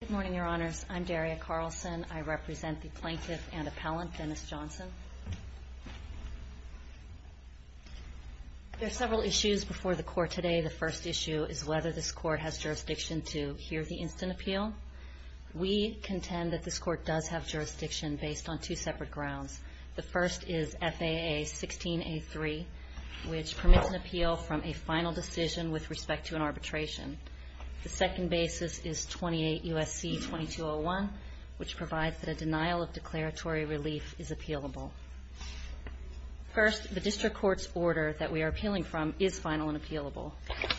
Good morning, Your Honors. I'm Daria Carlson. I represent the Plaintiff and Appellant, Dennis Johnson. There are several issues before the Court today. The first issue is whether this Court has jurisdiction to hear the instant appeal. We contend that this Court does have jurisdiction based on two separate grounds. The first is FAA 16A3, which permits an appeal from a final decision with respect to an arbitration. The second basis is 28 U.S.C. 2201, which provides that a denial of declaratory relief is appealable. First, the district court's order that we are appealing from is final and appealable.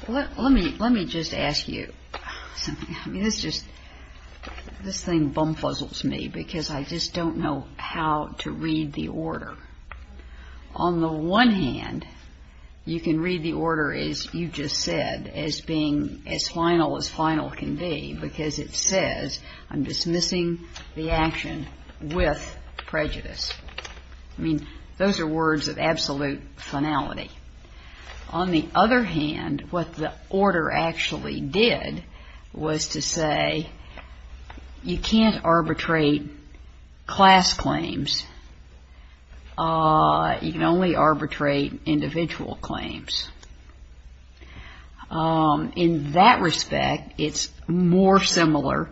Let me just ask you something. I mean, this thing bumfuzzles me because I just don't know how to read the order. On the one hand, you can read the order as you just said, as being as final as final can be, because it says, I'm dismissing the action with prejudice. I mean, those are words of absolute finality. On the other hand, what the order actually did was to say, you can't arbitrate class claims. You can only arbitrate individual claims. In that respect, it's more similar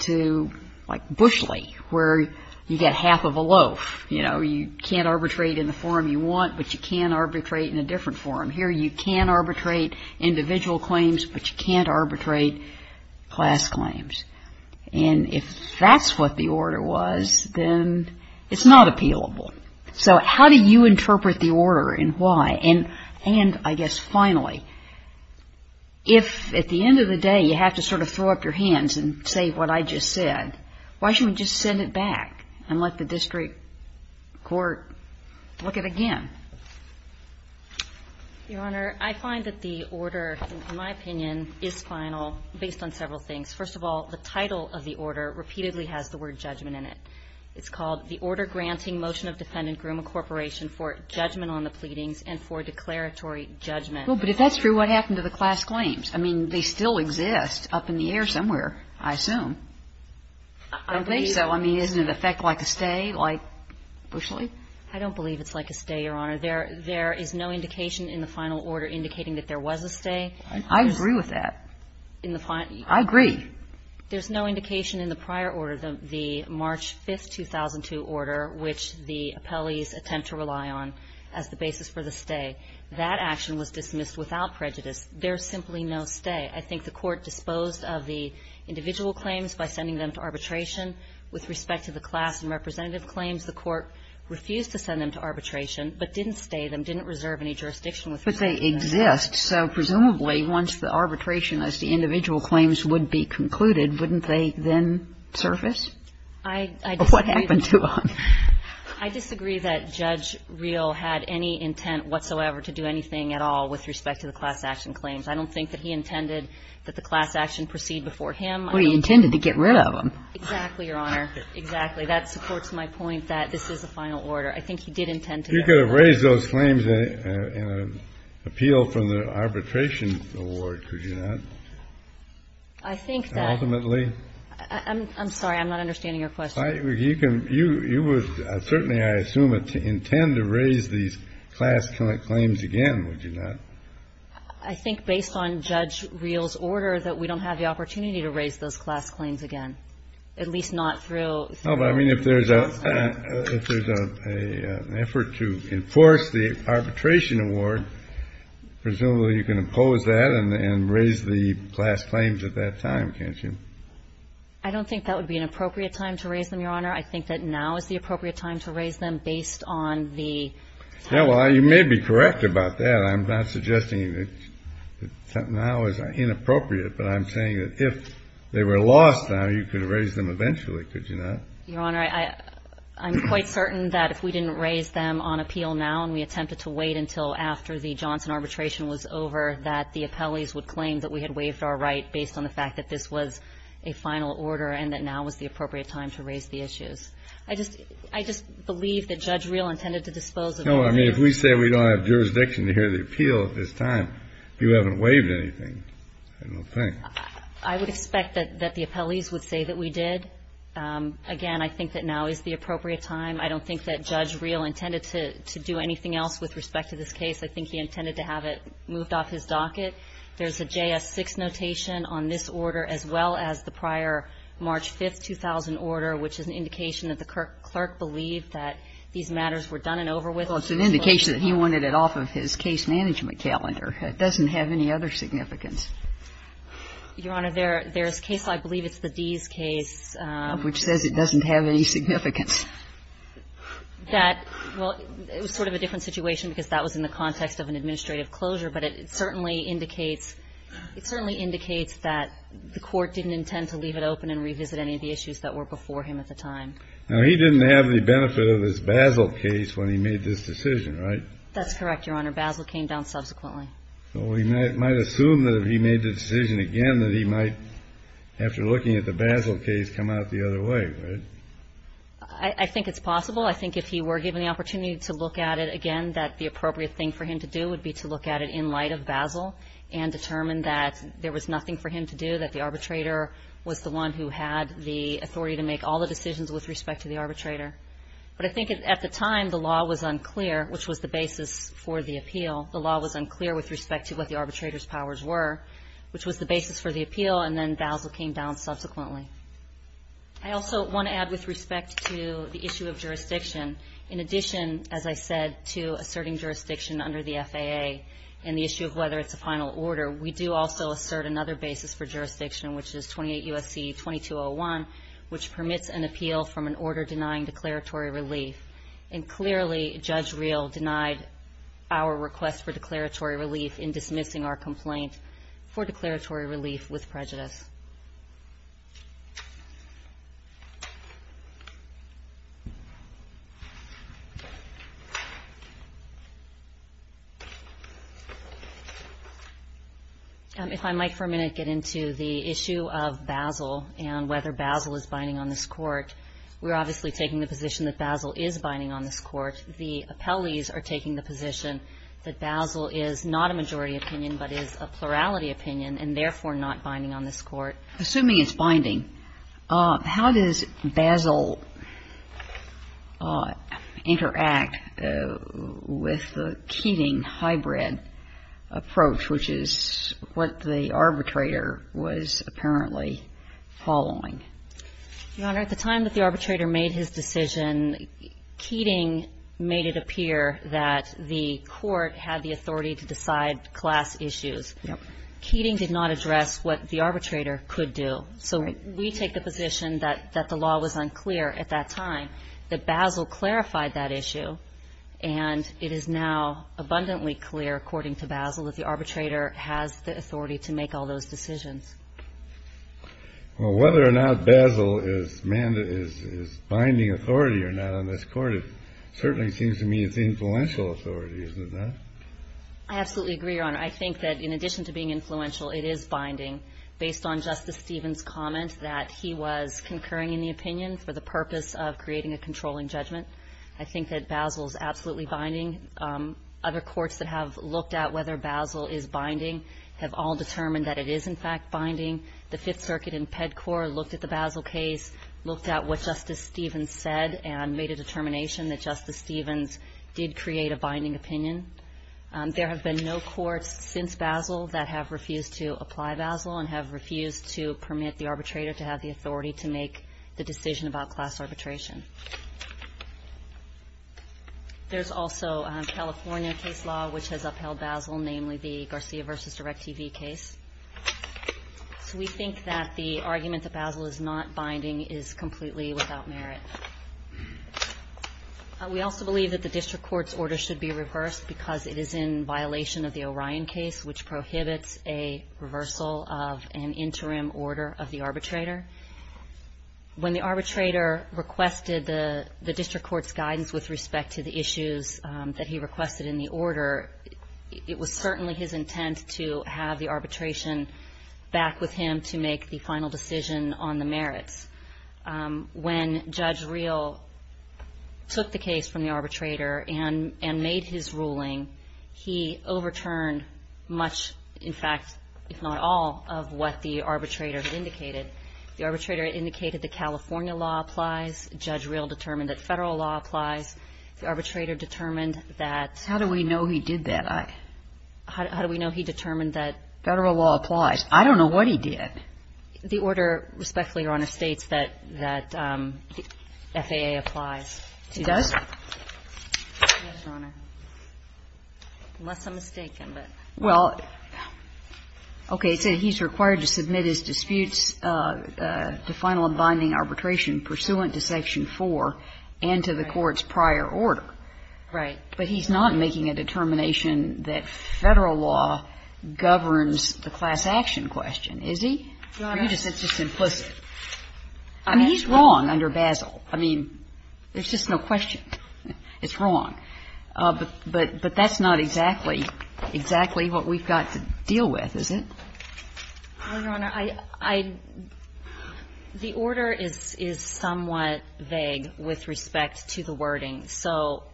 to, like, Bushley, where you get half of a loaf. You know, you can't arbitrate in the form you want, but you can arbitrate in a different form. Here, you can arbitrate individual claims, but you can't arbitrate class claims. And if that's what the order was, then it's not appealable. So how do you interpret the order and why? And I guess finally, if at the end of the day you have to sort of throw up your hands and say what I just said, why shouldn't we just send it back and let the district court look at it again? Your Honor, I find that the order, in my opinion, is final based on several things. First of all, the title of the order repeatedly has the word judgment in it. It's called the Order Granting Motion of Defendant Grumman Corporation for Judgment on the Pleadings and for Declaratory Judgment. Well, but if that's true, what happened to the class claims? I mean, they still exist up in the air somewhere, I assume. I don't think so. I mean, isn't it an effect like a stay, like Bushley? I don't believe it's like a stay, Your Honor. There is no indication in the final order indicating that there was a stay. I agree with that. I agree. There's no indication in the prior order, the March 5, 2002 order, which the appellees attempt to rely on as the basis for the stay. That action was dismissed without prejudice. There's simply no stay. I think the Court disposed of the individual claims by sending them to arbitration. With respect to the class and representative claims, the Court refused to send them to arbitration, but didn't stay them, didn't reserve any jurisdiction with them. But they exist. So presumably, once the arbitration as to individual claims would be concluded, wouldn't they then surface? I disagree. What happened to them? I disagree that Judge Reel had any intent whatsoever to do anything at all with respect to the class action claims. I don't think that he intended that the class action proceed before him. Well, he intended to get rid of them. Exactly, Your Honor. Exactly. That supports my point that this is the final order. I think he did intend to get rid of them. You could have raised those claims in an appeal from the arbitration award, could you not? I think that ultimately. I'm sorry. I'm not understanding your question. You would certainly, I assume, intend to raise these class claims again, would you not? I think based on Judge Reel's order that we don't have the opportunity to raise those class claims again, at least not through. No, but I mean if there's an effort to enforce the arbitration award, presumably you can impose that and raise the class claims at that time, can't you? I don't think that would be an appropriate time to raise them, Your Honor. I think that now is the appropriate time to raise them based on the time. Yeah, well, you may be correct about that. I'm not suggesting that now is inappropriate, but I'm saying that if they were lost now, you could have raised them eventually, could you not? Your Honor, I'm quite certain that if we didn't raise them on appeal now and we attempted to wait until after the Johnson arbitration was over, that the appellees would claim that we had waived our right based on the fact that this was a final order and that now was the appropriate time to raise the issues. I just believe that Judge Reel intended to dispose of it. No, I mean, if we say we don't have jurisdiction to hear the appeal at this time, you haven't waived anything, I don't think. I would expect that the appellees would say that we did. Again, I think that now is the appropriate time. I don't think that Judge Reel intended to do anything else with respect to this case. I think he intended to have it moved off his docket. There's a JS6 notation on this order as well as the prior March 5, 2000 order, which is an indication that the clerk believed that these matters were done and over with. Well, it's an indication that he wanted it off of his case management calendar. It doesn't have any other significance. Your Honor, there's a case, I believe it's the Dees case. Which says it doesn't have any significance. Well, it was sort of a different situation because that was in the context of an administrative closure. But it certainly indicates that the court didn't intend to leave it open and revisit any of the issues that were before him at the time. Now, he didn't have the benefit of his Basel case when he made this decision, right? That's correct, Your Honor. Basel came down subsequently. Well, we might assume that if he made the decision again that he might, after looking at the Basel case, come out the other way, right? I think it's possible. I think if he were given the opportunity to look at it again, that the appropriate thing for him to do would be to look at it in light of Basel and determine that there was nothing for him to do, that the arbitrator was the one who had the authority to make all the decisions with respect to the arbitrator. But I think at the time, the law was unclear, which was the basis for the appeal. The law was unclear with respect to what the arbitrator's powers were, which was the basis for the appeal. And then Basel came down subsequently. I also want to add with respect to the issue of jurisdiction. In addition, as I said, to asserting jurisdiction under the FAA and the issue of whether it's a final order, we do also assert another basis for jurisdiction, which is 28 U.S.C. 2201, which permits an appeal from an order denying declaratory relief. And clearly, Judge Reel denied our request for declaratory relief in dismissing our complaint for declaratory relief with prejudice. If I might for a minute get into the issue of Basel and whether Basel is binding on this court, we're obviously taking the position that Basel is binding on this court. The appellees are taking the position that Basel is not a majority opinion but is a plurality opinion and therefore not binding on this court. Assuming it's binding, how does Basel interact with the Keating hybrid approach, which is what the arbitrator was apparently following? Your Honor, at the time that the arbitrator made his decision, Keating made it appear that the court had the authority to decide class issues. Yep. Keating did not address what the arbitrator could do. Right. So we take the position that the law was unclear at that time, that Basel clarified that issue, and it is now abundantly clear, according to Basel, that the arbitrator has the authority to make all those decisions. Well, whether or not Basel is binding authority or not on this court, it certainly seems to me it's influential authority, isn't it? I absolutely agree, Your Honor. I think that in addition to being influential, it is binding. Based on Justice Stevens' comment that he was concurring in the opinion for the purpose of creating a controlling judgment, I think that Basel is absolutely binding. Other courts that have looked at whether Basel is binding have all determined that it is, in fact, binding. The Fifth Circuit and PEDCOR looked at the Basel case, looked at what Justice Stevens said, and made a determination that Justice Stevens did create a binding opinion. There have been no courts since Basel that have refused to apply Basel and have refused to permit the arbitrator to have the authority to make the decision about class arbitration. There's also a California case law which has upheld Basel, namely the Garcia v. DirecTV case. So we think that the argument that Basel is not binding is completely without merit. We also believe that the district court's order should be reversed because it is in violation of the Orion case, which prohibits a reversal of an interim order of the arbitrator. When the arbitrator requested the district court's guidance with respect to the issues that he requested in the order, it was certainly his intent to have the arbitration back with him to make the final decision on the merits. When Judge Reel took the case from the arbitrator and made his ruling, he overturned much, in fact, if not all, of what the arbitrator indicated. The arbitrator indicated the California law applies. Judge Reel determined that Federal law applies. The arbitrator determined that the Federal law applies. I don't know what he did. The order respectfully, Your Honor, states that FAA applies. It does? Yes, Your Honor. Unless I'm mistaken, but. Well, okay. So he's required to submit his disputes to final and binding arbitration pursuant to Section 4 and to the court's prior order. Right. But he's not making a determination that Federal law governs the class action question, is he? Your Honor. It's just implicit. I mean, he's wrong under Basel. I mean, there's just no question. It's wrong. But that's not exactly what we've got to deal with, is it? Well, Your Honor, I — the order is somewhat vague with respect to the wording. So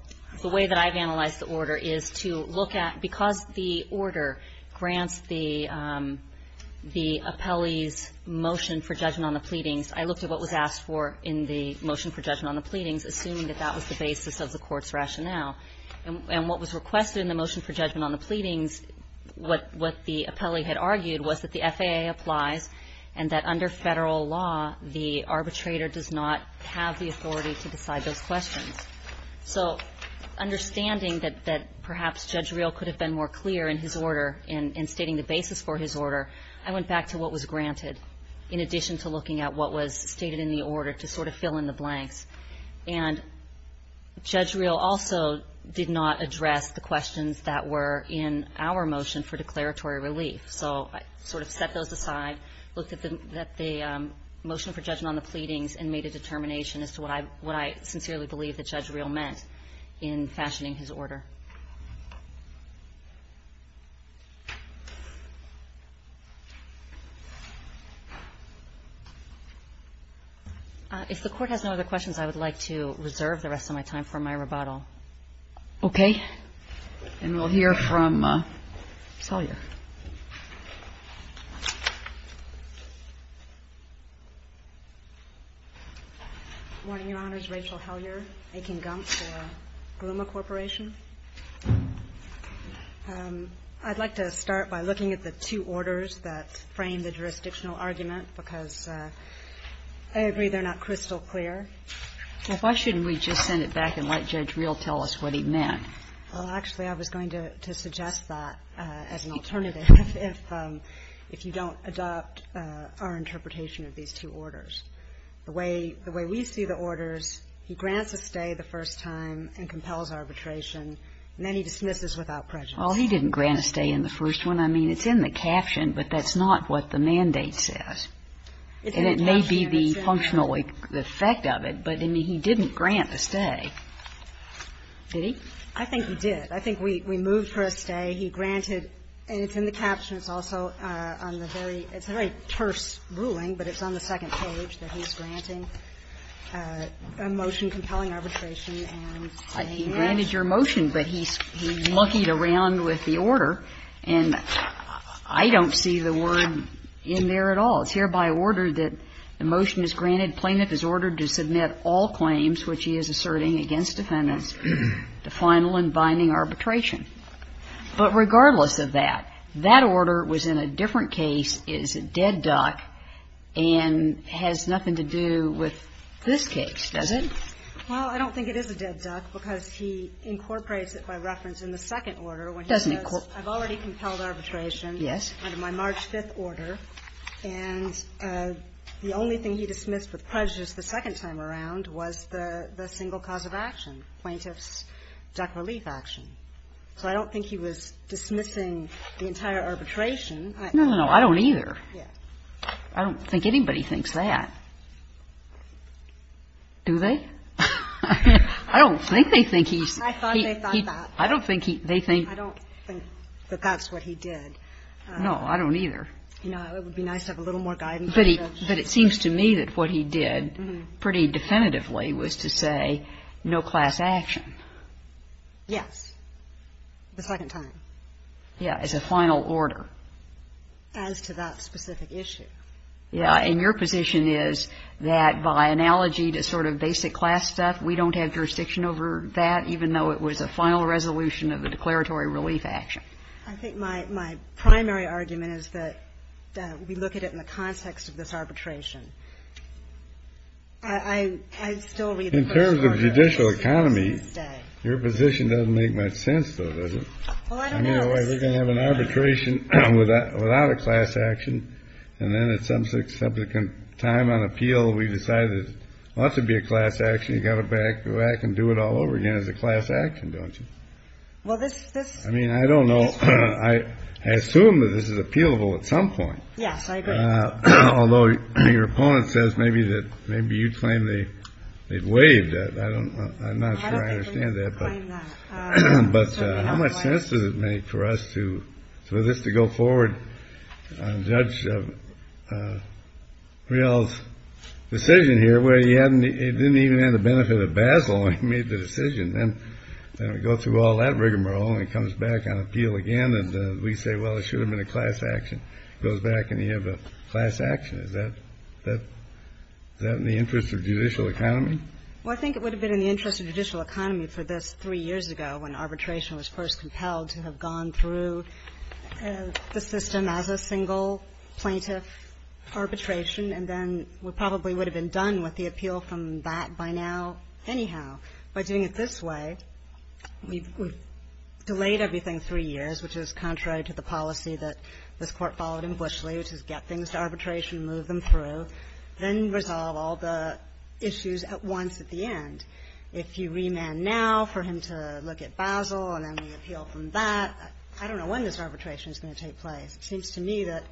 the way that I've analyzed the order is to look at — because the order grants the appellee's motion for judgment on the pleadings, I looked at what was asked for in the motion for judgment on the pleadings, assuming that that was the basis of the court's rationale. And what was requested in the motion for judgment on the pleadings, what the appellee had argued was that the FAA applies and that under Federal law, the arbitrator does not have the authority to decide those questions. So understanding that perhaps Judge Reel could have been more clear in his order in stating the basis for his order, I went back to what was granted in addition to looking at what was stated in the order to sort of fill in the blanks. And Judge Reel also did not address the questions that were in our motion for declaratory relief. So I sort of set those aside, looked at the motion for judgment on the pleadings and made a determination as to what I sincerely believe that Judge Reel meant in fashioning his order. If the Court has no other questions, I would like to reserve the rest of my time for my rebuttal. Okay. And we'll hear from Salyer. Good morning, Your Honors. Rachel Hellyer, Akin Gump for Grumman Corporation. I'd like to start by looking at the two orders that frame the jurisdictional argument because I agree they're not crystal clear. Well, why shouldn't we just send it back and let Judge Reel tell us what he meant? Well, actually, I was going to suggest that as an alternative if you don't adopt our interpretation of these two orders. The way we see the orders, he grants a stay the first time and compels arbitration and then he dismisses without prejudice. Well, he didn't grant a stay in the first one. I mean, it's in the caption, but that's not what the mandate says. And it may be the functional effect of it, but, I mean, he didn't grant a stay. Did he? I think he did. I think we moved for a stay. He granted, and it's in the caption, it's also on the very, it's a very terse ruling, but it's on the second page that he's granting a motion compelling arbitration and saying that. He granted your motion, but he luckied around with the order. And I don't see the word in there at all. It's hereby ordered that the motion is granted, plaintiff is ordered to submit all claims which he is asserting against defendants to final and binding arbitration. But regardless of that, that order was in a different case. It is a dead duck and has nothing to do with this case, does it? Well, I don't think it is a dead duck because he incorporates it by reference in the second order when he says I've already compelled arbitration under my March 5th order, and the only thing he dismissed with prejudice the second time around was the single cause of action, plaintiff's duck relief action. So I don't think he was dismissing the entire arbitration. No, no, no. I don't either. I don't think anybody thinks that. Do they? I don't think they think he's. I thought they thought that. I don't think they think. I don't think that that's what he did. No, I don't either. You know, it would be nice to have a little more guidance. But it seems to me that what he did pretty definitively was to say no class action. Yes, the second time. Yeah, as a final order. As to that specific issue. Yeah, and your position is that by analogy to sort of basic class stuff, we don't have jurisdiction over that, even though it was a final resolution of the declaratory relief action. I think my primary argument is that we look at it in the context of this arbitration. I still read the first part of it. In terms of judicial economy, your position doesn't make much sense, though, does it? Well, I don't know. You know, we're going to have an arbitration without a class action. And then at some subsequent time on appeal, we decided it ought to be a class action. You got it back. I can do it all over again as a class action. Don't you? Well, this this. I mean, I don't know. I assume that this is appealable at some point. Yes, I agree. Although your opponent says maybe that maybe you'd claim the wave that I don't know. I'm not sure I understand that. But how much sense does it make for us to for this to go forward? Judge Riel's decision here where he hadn't it didn't even have the benefit of Basil when he made the decision. Then we go through all that rigmarole and it comes back on appeal again. And we say, well, it should have been a class action. It goes back and you have a class action. Is that in the interest of judicial economy? Well, I think it would have been in the interest of judicial economy for this three years ago when arbitration was first compelled to have gone through the system as a single plaintiff arbitration. And then we probably would have been done with the appeal from that by now anyhow. By doing it this way, we've delayed everything three years, which is contrary to the policy that this Court followed in Bushley, which is get things to arbitration, move them through, then resolve all the issues at once at the end. If you remand now for him to look at Basil and then the appeal from that, I don't know when this arbitration is going to take place. It seems to me that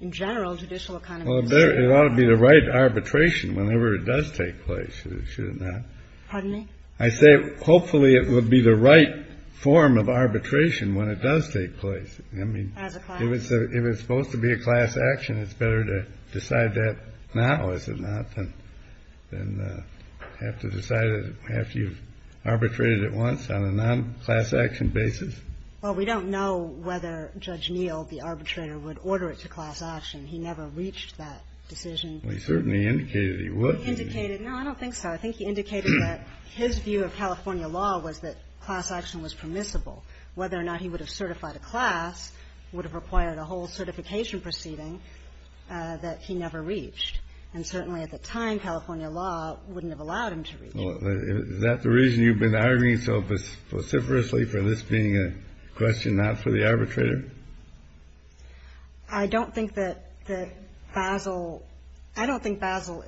in general judicial economy. Well, it ought to be the right arbitration whenever it does take place, should it not? Pardon me? I say hopefully it would be the right form of arbitration when it does take place. I mean. As a class. Class action, it's better to decide that now, is it not, than have to decide it after you've arbitrated it once on a non-class action basis? Well, we don't know whether Judge Neal, the arbitrator, would order it to class action. He never reached that decision. Well, he certainly indicated he would. He indicated. No, I don't think so. I think he indicated that his view of California law was that class action was permissible. Whether or not he would have certified a class would have required a whole certification proceeding that he never reached. And certainly at the time, California law wouldn't have allowed him to reach it. Well, is that the reason you've been arguing so vociferously for this being a question not for the arbitrator? I don't think that Basel – I don't think Basel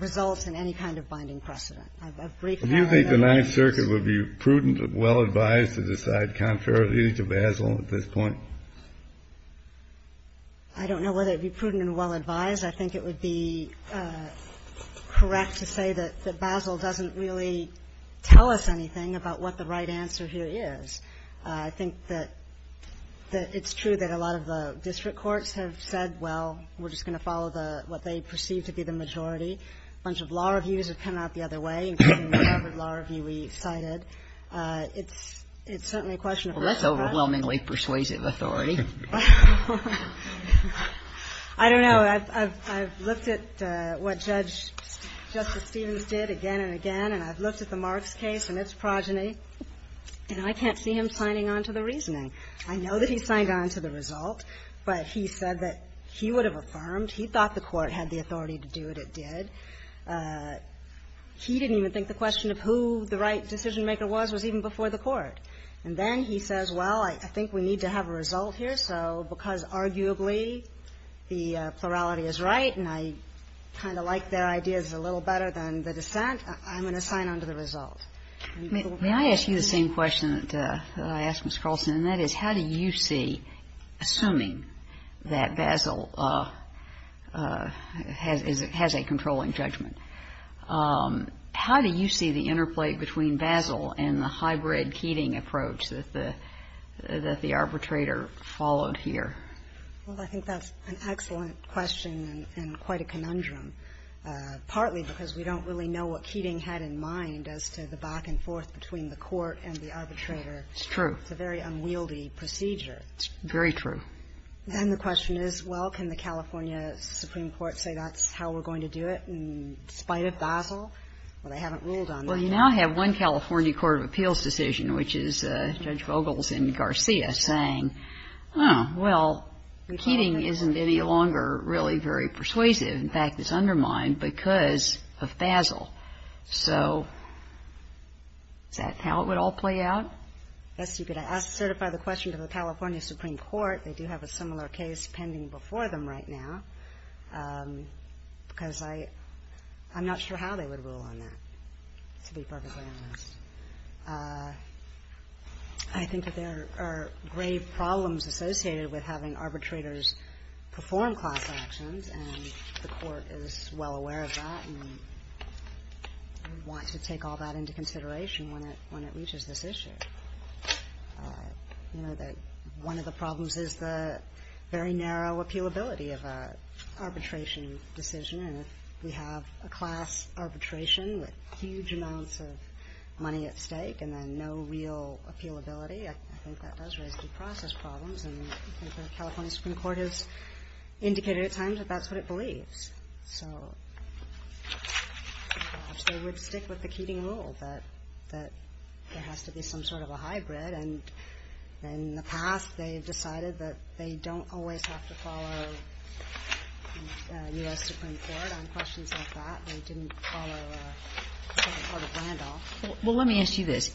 results in any kind of binding precedent. I've briefly argued otherwise. Do you think the Ninth Circuit would be prudent, well-advised to decide contrary to Basel at this point? I don't know whether it would be prudent and well-advised. I think it would be correct to say that Basel doesn't really tell us anything about what the right answer here is. I think that it's true that a lot of the district courts have said, well, we're just going to follow what they perceive to be the majority. A bunch of law reviews have come out the other way, including the Harvard law review we cited. I don't know. I've looked at what Judge – Justice Stevens did again and again, and I've looked at the Marks case and its progeny, and I can't see him signing on to the reasoning. I know that he signed on to the result, but he said that he would have affirmed he thought the court had the authority to do what it did. He didn't even think the question of who the right decision-maker was was a question even before the court. And then he says, well, I think we need to have a result here, so because arguably the plurality is right and I kind of like their ideas a little better than the dissent, I'm going to sign on to the result. May I ask you the same question that I asked Ms. Carlson, and that is how do you see, assuming that Basel has a controlling judgment, how do you see the interplay between Basel and the hybrid Keating approach that the arbitrator followed here? Well, I think that's an excellent question and quite a conundrum, partly because we don't really know what Keating had in mind as to the back-and-forth between the court and the arbitrator. It's true. It's a very unwieldy procedure. It's very true. Then the question is, well, can the California Supreme Court say that's how we're Well, they haven't ruled on that yet. Well, you now have one California Court of Appeals decision, which is Judge Vogel's in Garcia saying, well, Keating isn't any longer really very persuasive. In fact, it's undermined because of Basel. So is that how it would all play out? Yes. You could certify the question to the California Supreme Court. They do have a similar case pending before them right now because I'm not sure how they would rule on that. To be perfectly honest, I think that there are grave problems associated with having arbitrators perform class actions, and the court is well aware of that and wants to take all that into consideration when it reaches this issue. You know, one of the problems is the very narrow appealability of an arbitration decision, and if we have a class arbitration with huge amounts of money at stake and then no real appealability, I think that does raise due process problems, and the California Supreme Court has indicated at times that that's what it believes. So perhaps they would stick with the Keating rule that there has to be some sort of a hybrid, and in the past they have decided that they don't always have to follow U.S. Supreme Court on questions like that. They didn't follow the Supreme Court of Randolph. Well, let me ask you this.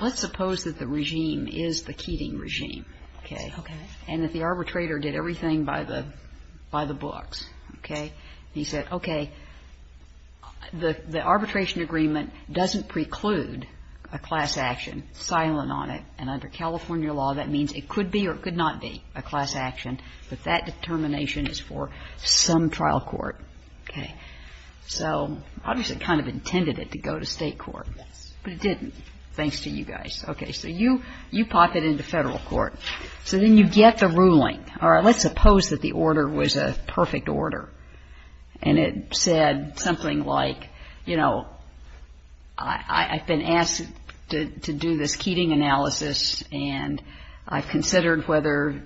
Let's suppose that the regime is the Keating regime, okay? Okay. And that the arbitrator did everything by the books, okay? He said, okay, the arbitration agreement doesn't preclude a class action. We're silent on it. And under California law, that means it could be or it could not be a class action, but that determination is for some trial court, okay? So obviously it kind of intended it to go to State court. Yes. But it didn't, thanks to you guys. Okay. So you pop it into Federal court. So then you get the ruling. All right. Let's suppose that the order was a perfect order, and it said something like, you know, I've been asked to do this Keating analysis, and I've considered whether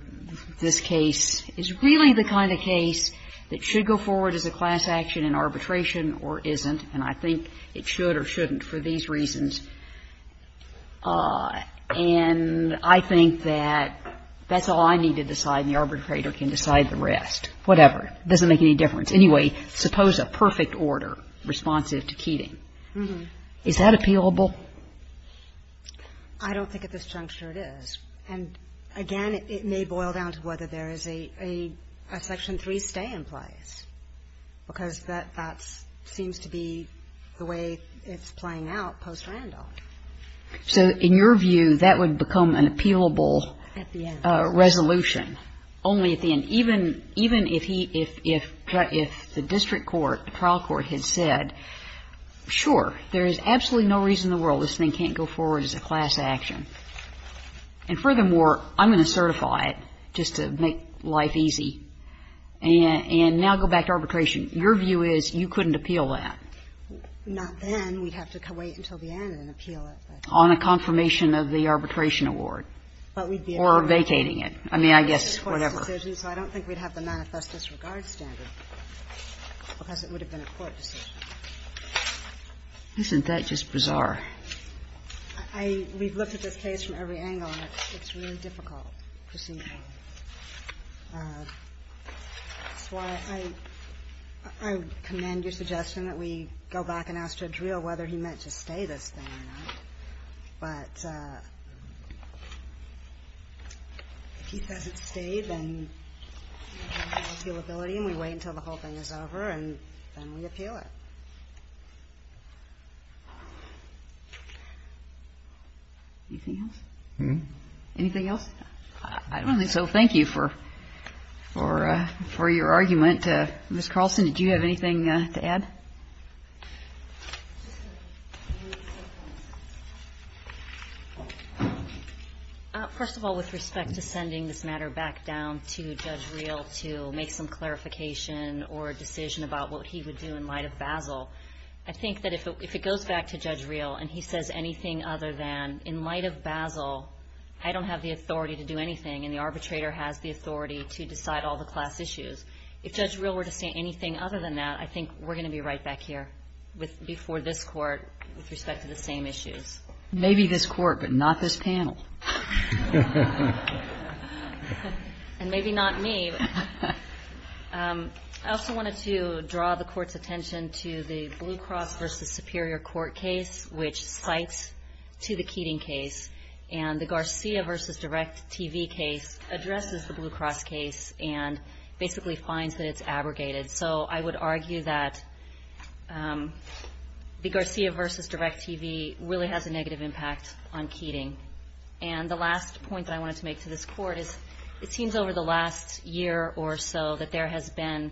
this case is really the kind of case that should go forward as a class action in arbitration or isn't, and I think it should or shouldn't for these reasons. And I think that that's all I need to decide, and the arbitrator can decide the rest. Whatever. It doesn't make any difference. Anyway, suppose a perfect order responsive to Keating. Mm-hmm. Is that appealable? I don't think at this juncture it is. And, again, it may boil down to whether there is a Section 3 stay in place because that seems to be the way it's playing out post-Randolph. So in your view, that would become an appealable resolution only at the end. Even if he – if the district court, the trial court, had said, sure, there is absolutely no reason in the world this thing can't go forward as a class action, and furthermore, I'm going to certify it just to make life easy, and now go back to arbitration. Your view is you couldn't appeal that. Not then. We'd have to wait until the end and appeal it. On a confirmation of the arbitration award. Or vacating it. I mean, I guess whatever. I don't think we'd have the manifest disregard standard because it would have been a court decision. Isn't that just bizarre? I – we've looked at this case from every angle, and it's really difficult to see why. That's why I – I commend your suggestion that we go back and ask Jadriel whether he meant to stay this thing or not. But if he doesn't stay, then appealability, and we wait until the whole thing is over, and then we appeal it. Anything else? Anything else? I don't think so. Thank you for – for your argument. Ms. Carlson, did you have anything to add? First of all, with respect to sending this matter back down to Jadriel to make some clarification or a decision about what he would do in light of Basel, I think that if it goes back to Jadriel and he says anything other than, in light of Basel, I don't have the authority to do anything, and the arbitrator has the authority to decide all the class issues. If Jadriel were to say anything other than that, I think we're going to be right back here before this Court with respect to the same issues. Maybe this Court, but not this panel. And maybe not me. I also wanted to draw the Court's attention to the Blue Cross v. Superior court case, which cites to the Keating case, and the Garcia v. Direct TV case addresses the Blue Cross case and basically finds that it's abrogated. So I would argue that the Garcia v. Direct TV really has a negative impact on Keating. And the last point that I wanted to make to this Court is it seems over the last year or so that there has been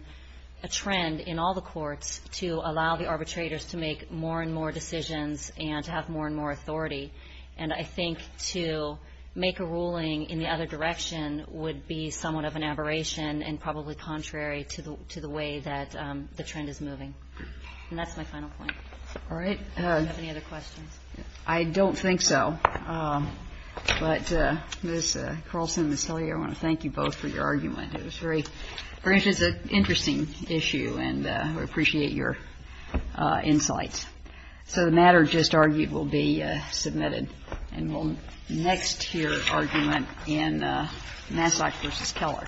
a trend in all the courts to allow the arbitrators to make more and more decisions and to have more and more authority. And I think to make a ruling in the other direction would be somewhat of an aberration and probably contrary to the way that the trend is moving. And that's my final point. Kagan. All right. Do you have any other questions? I don't think so. But Ms. Carlson and Ms. Hilliard, I want to thank you both for your argument. It was very interesting issue, and we appreciate your insights. So the matter just argued will be submitted. And we'll next hear argument in Massack v. Keller. Thank you.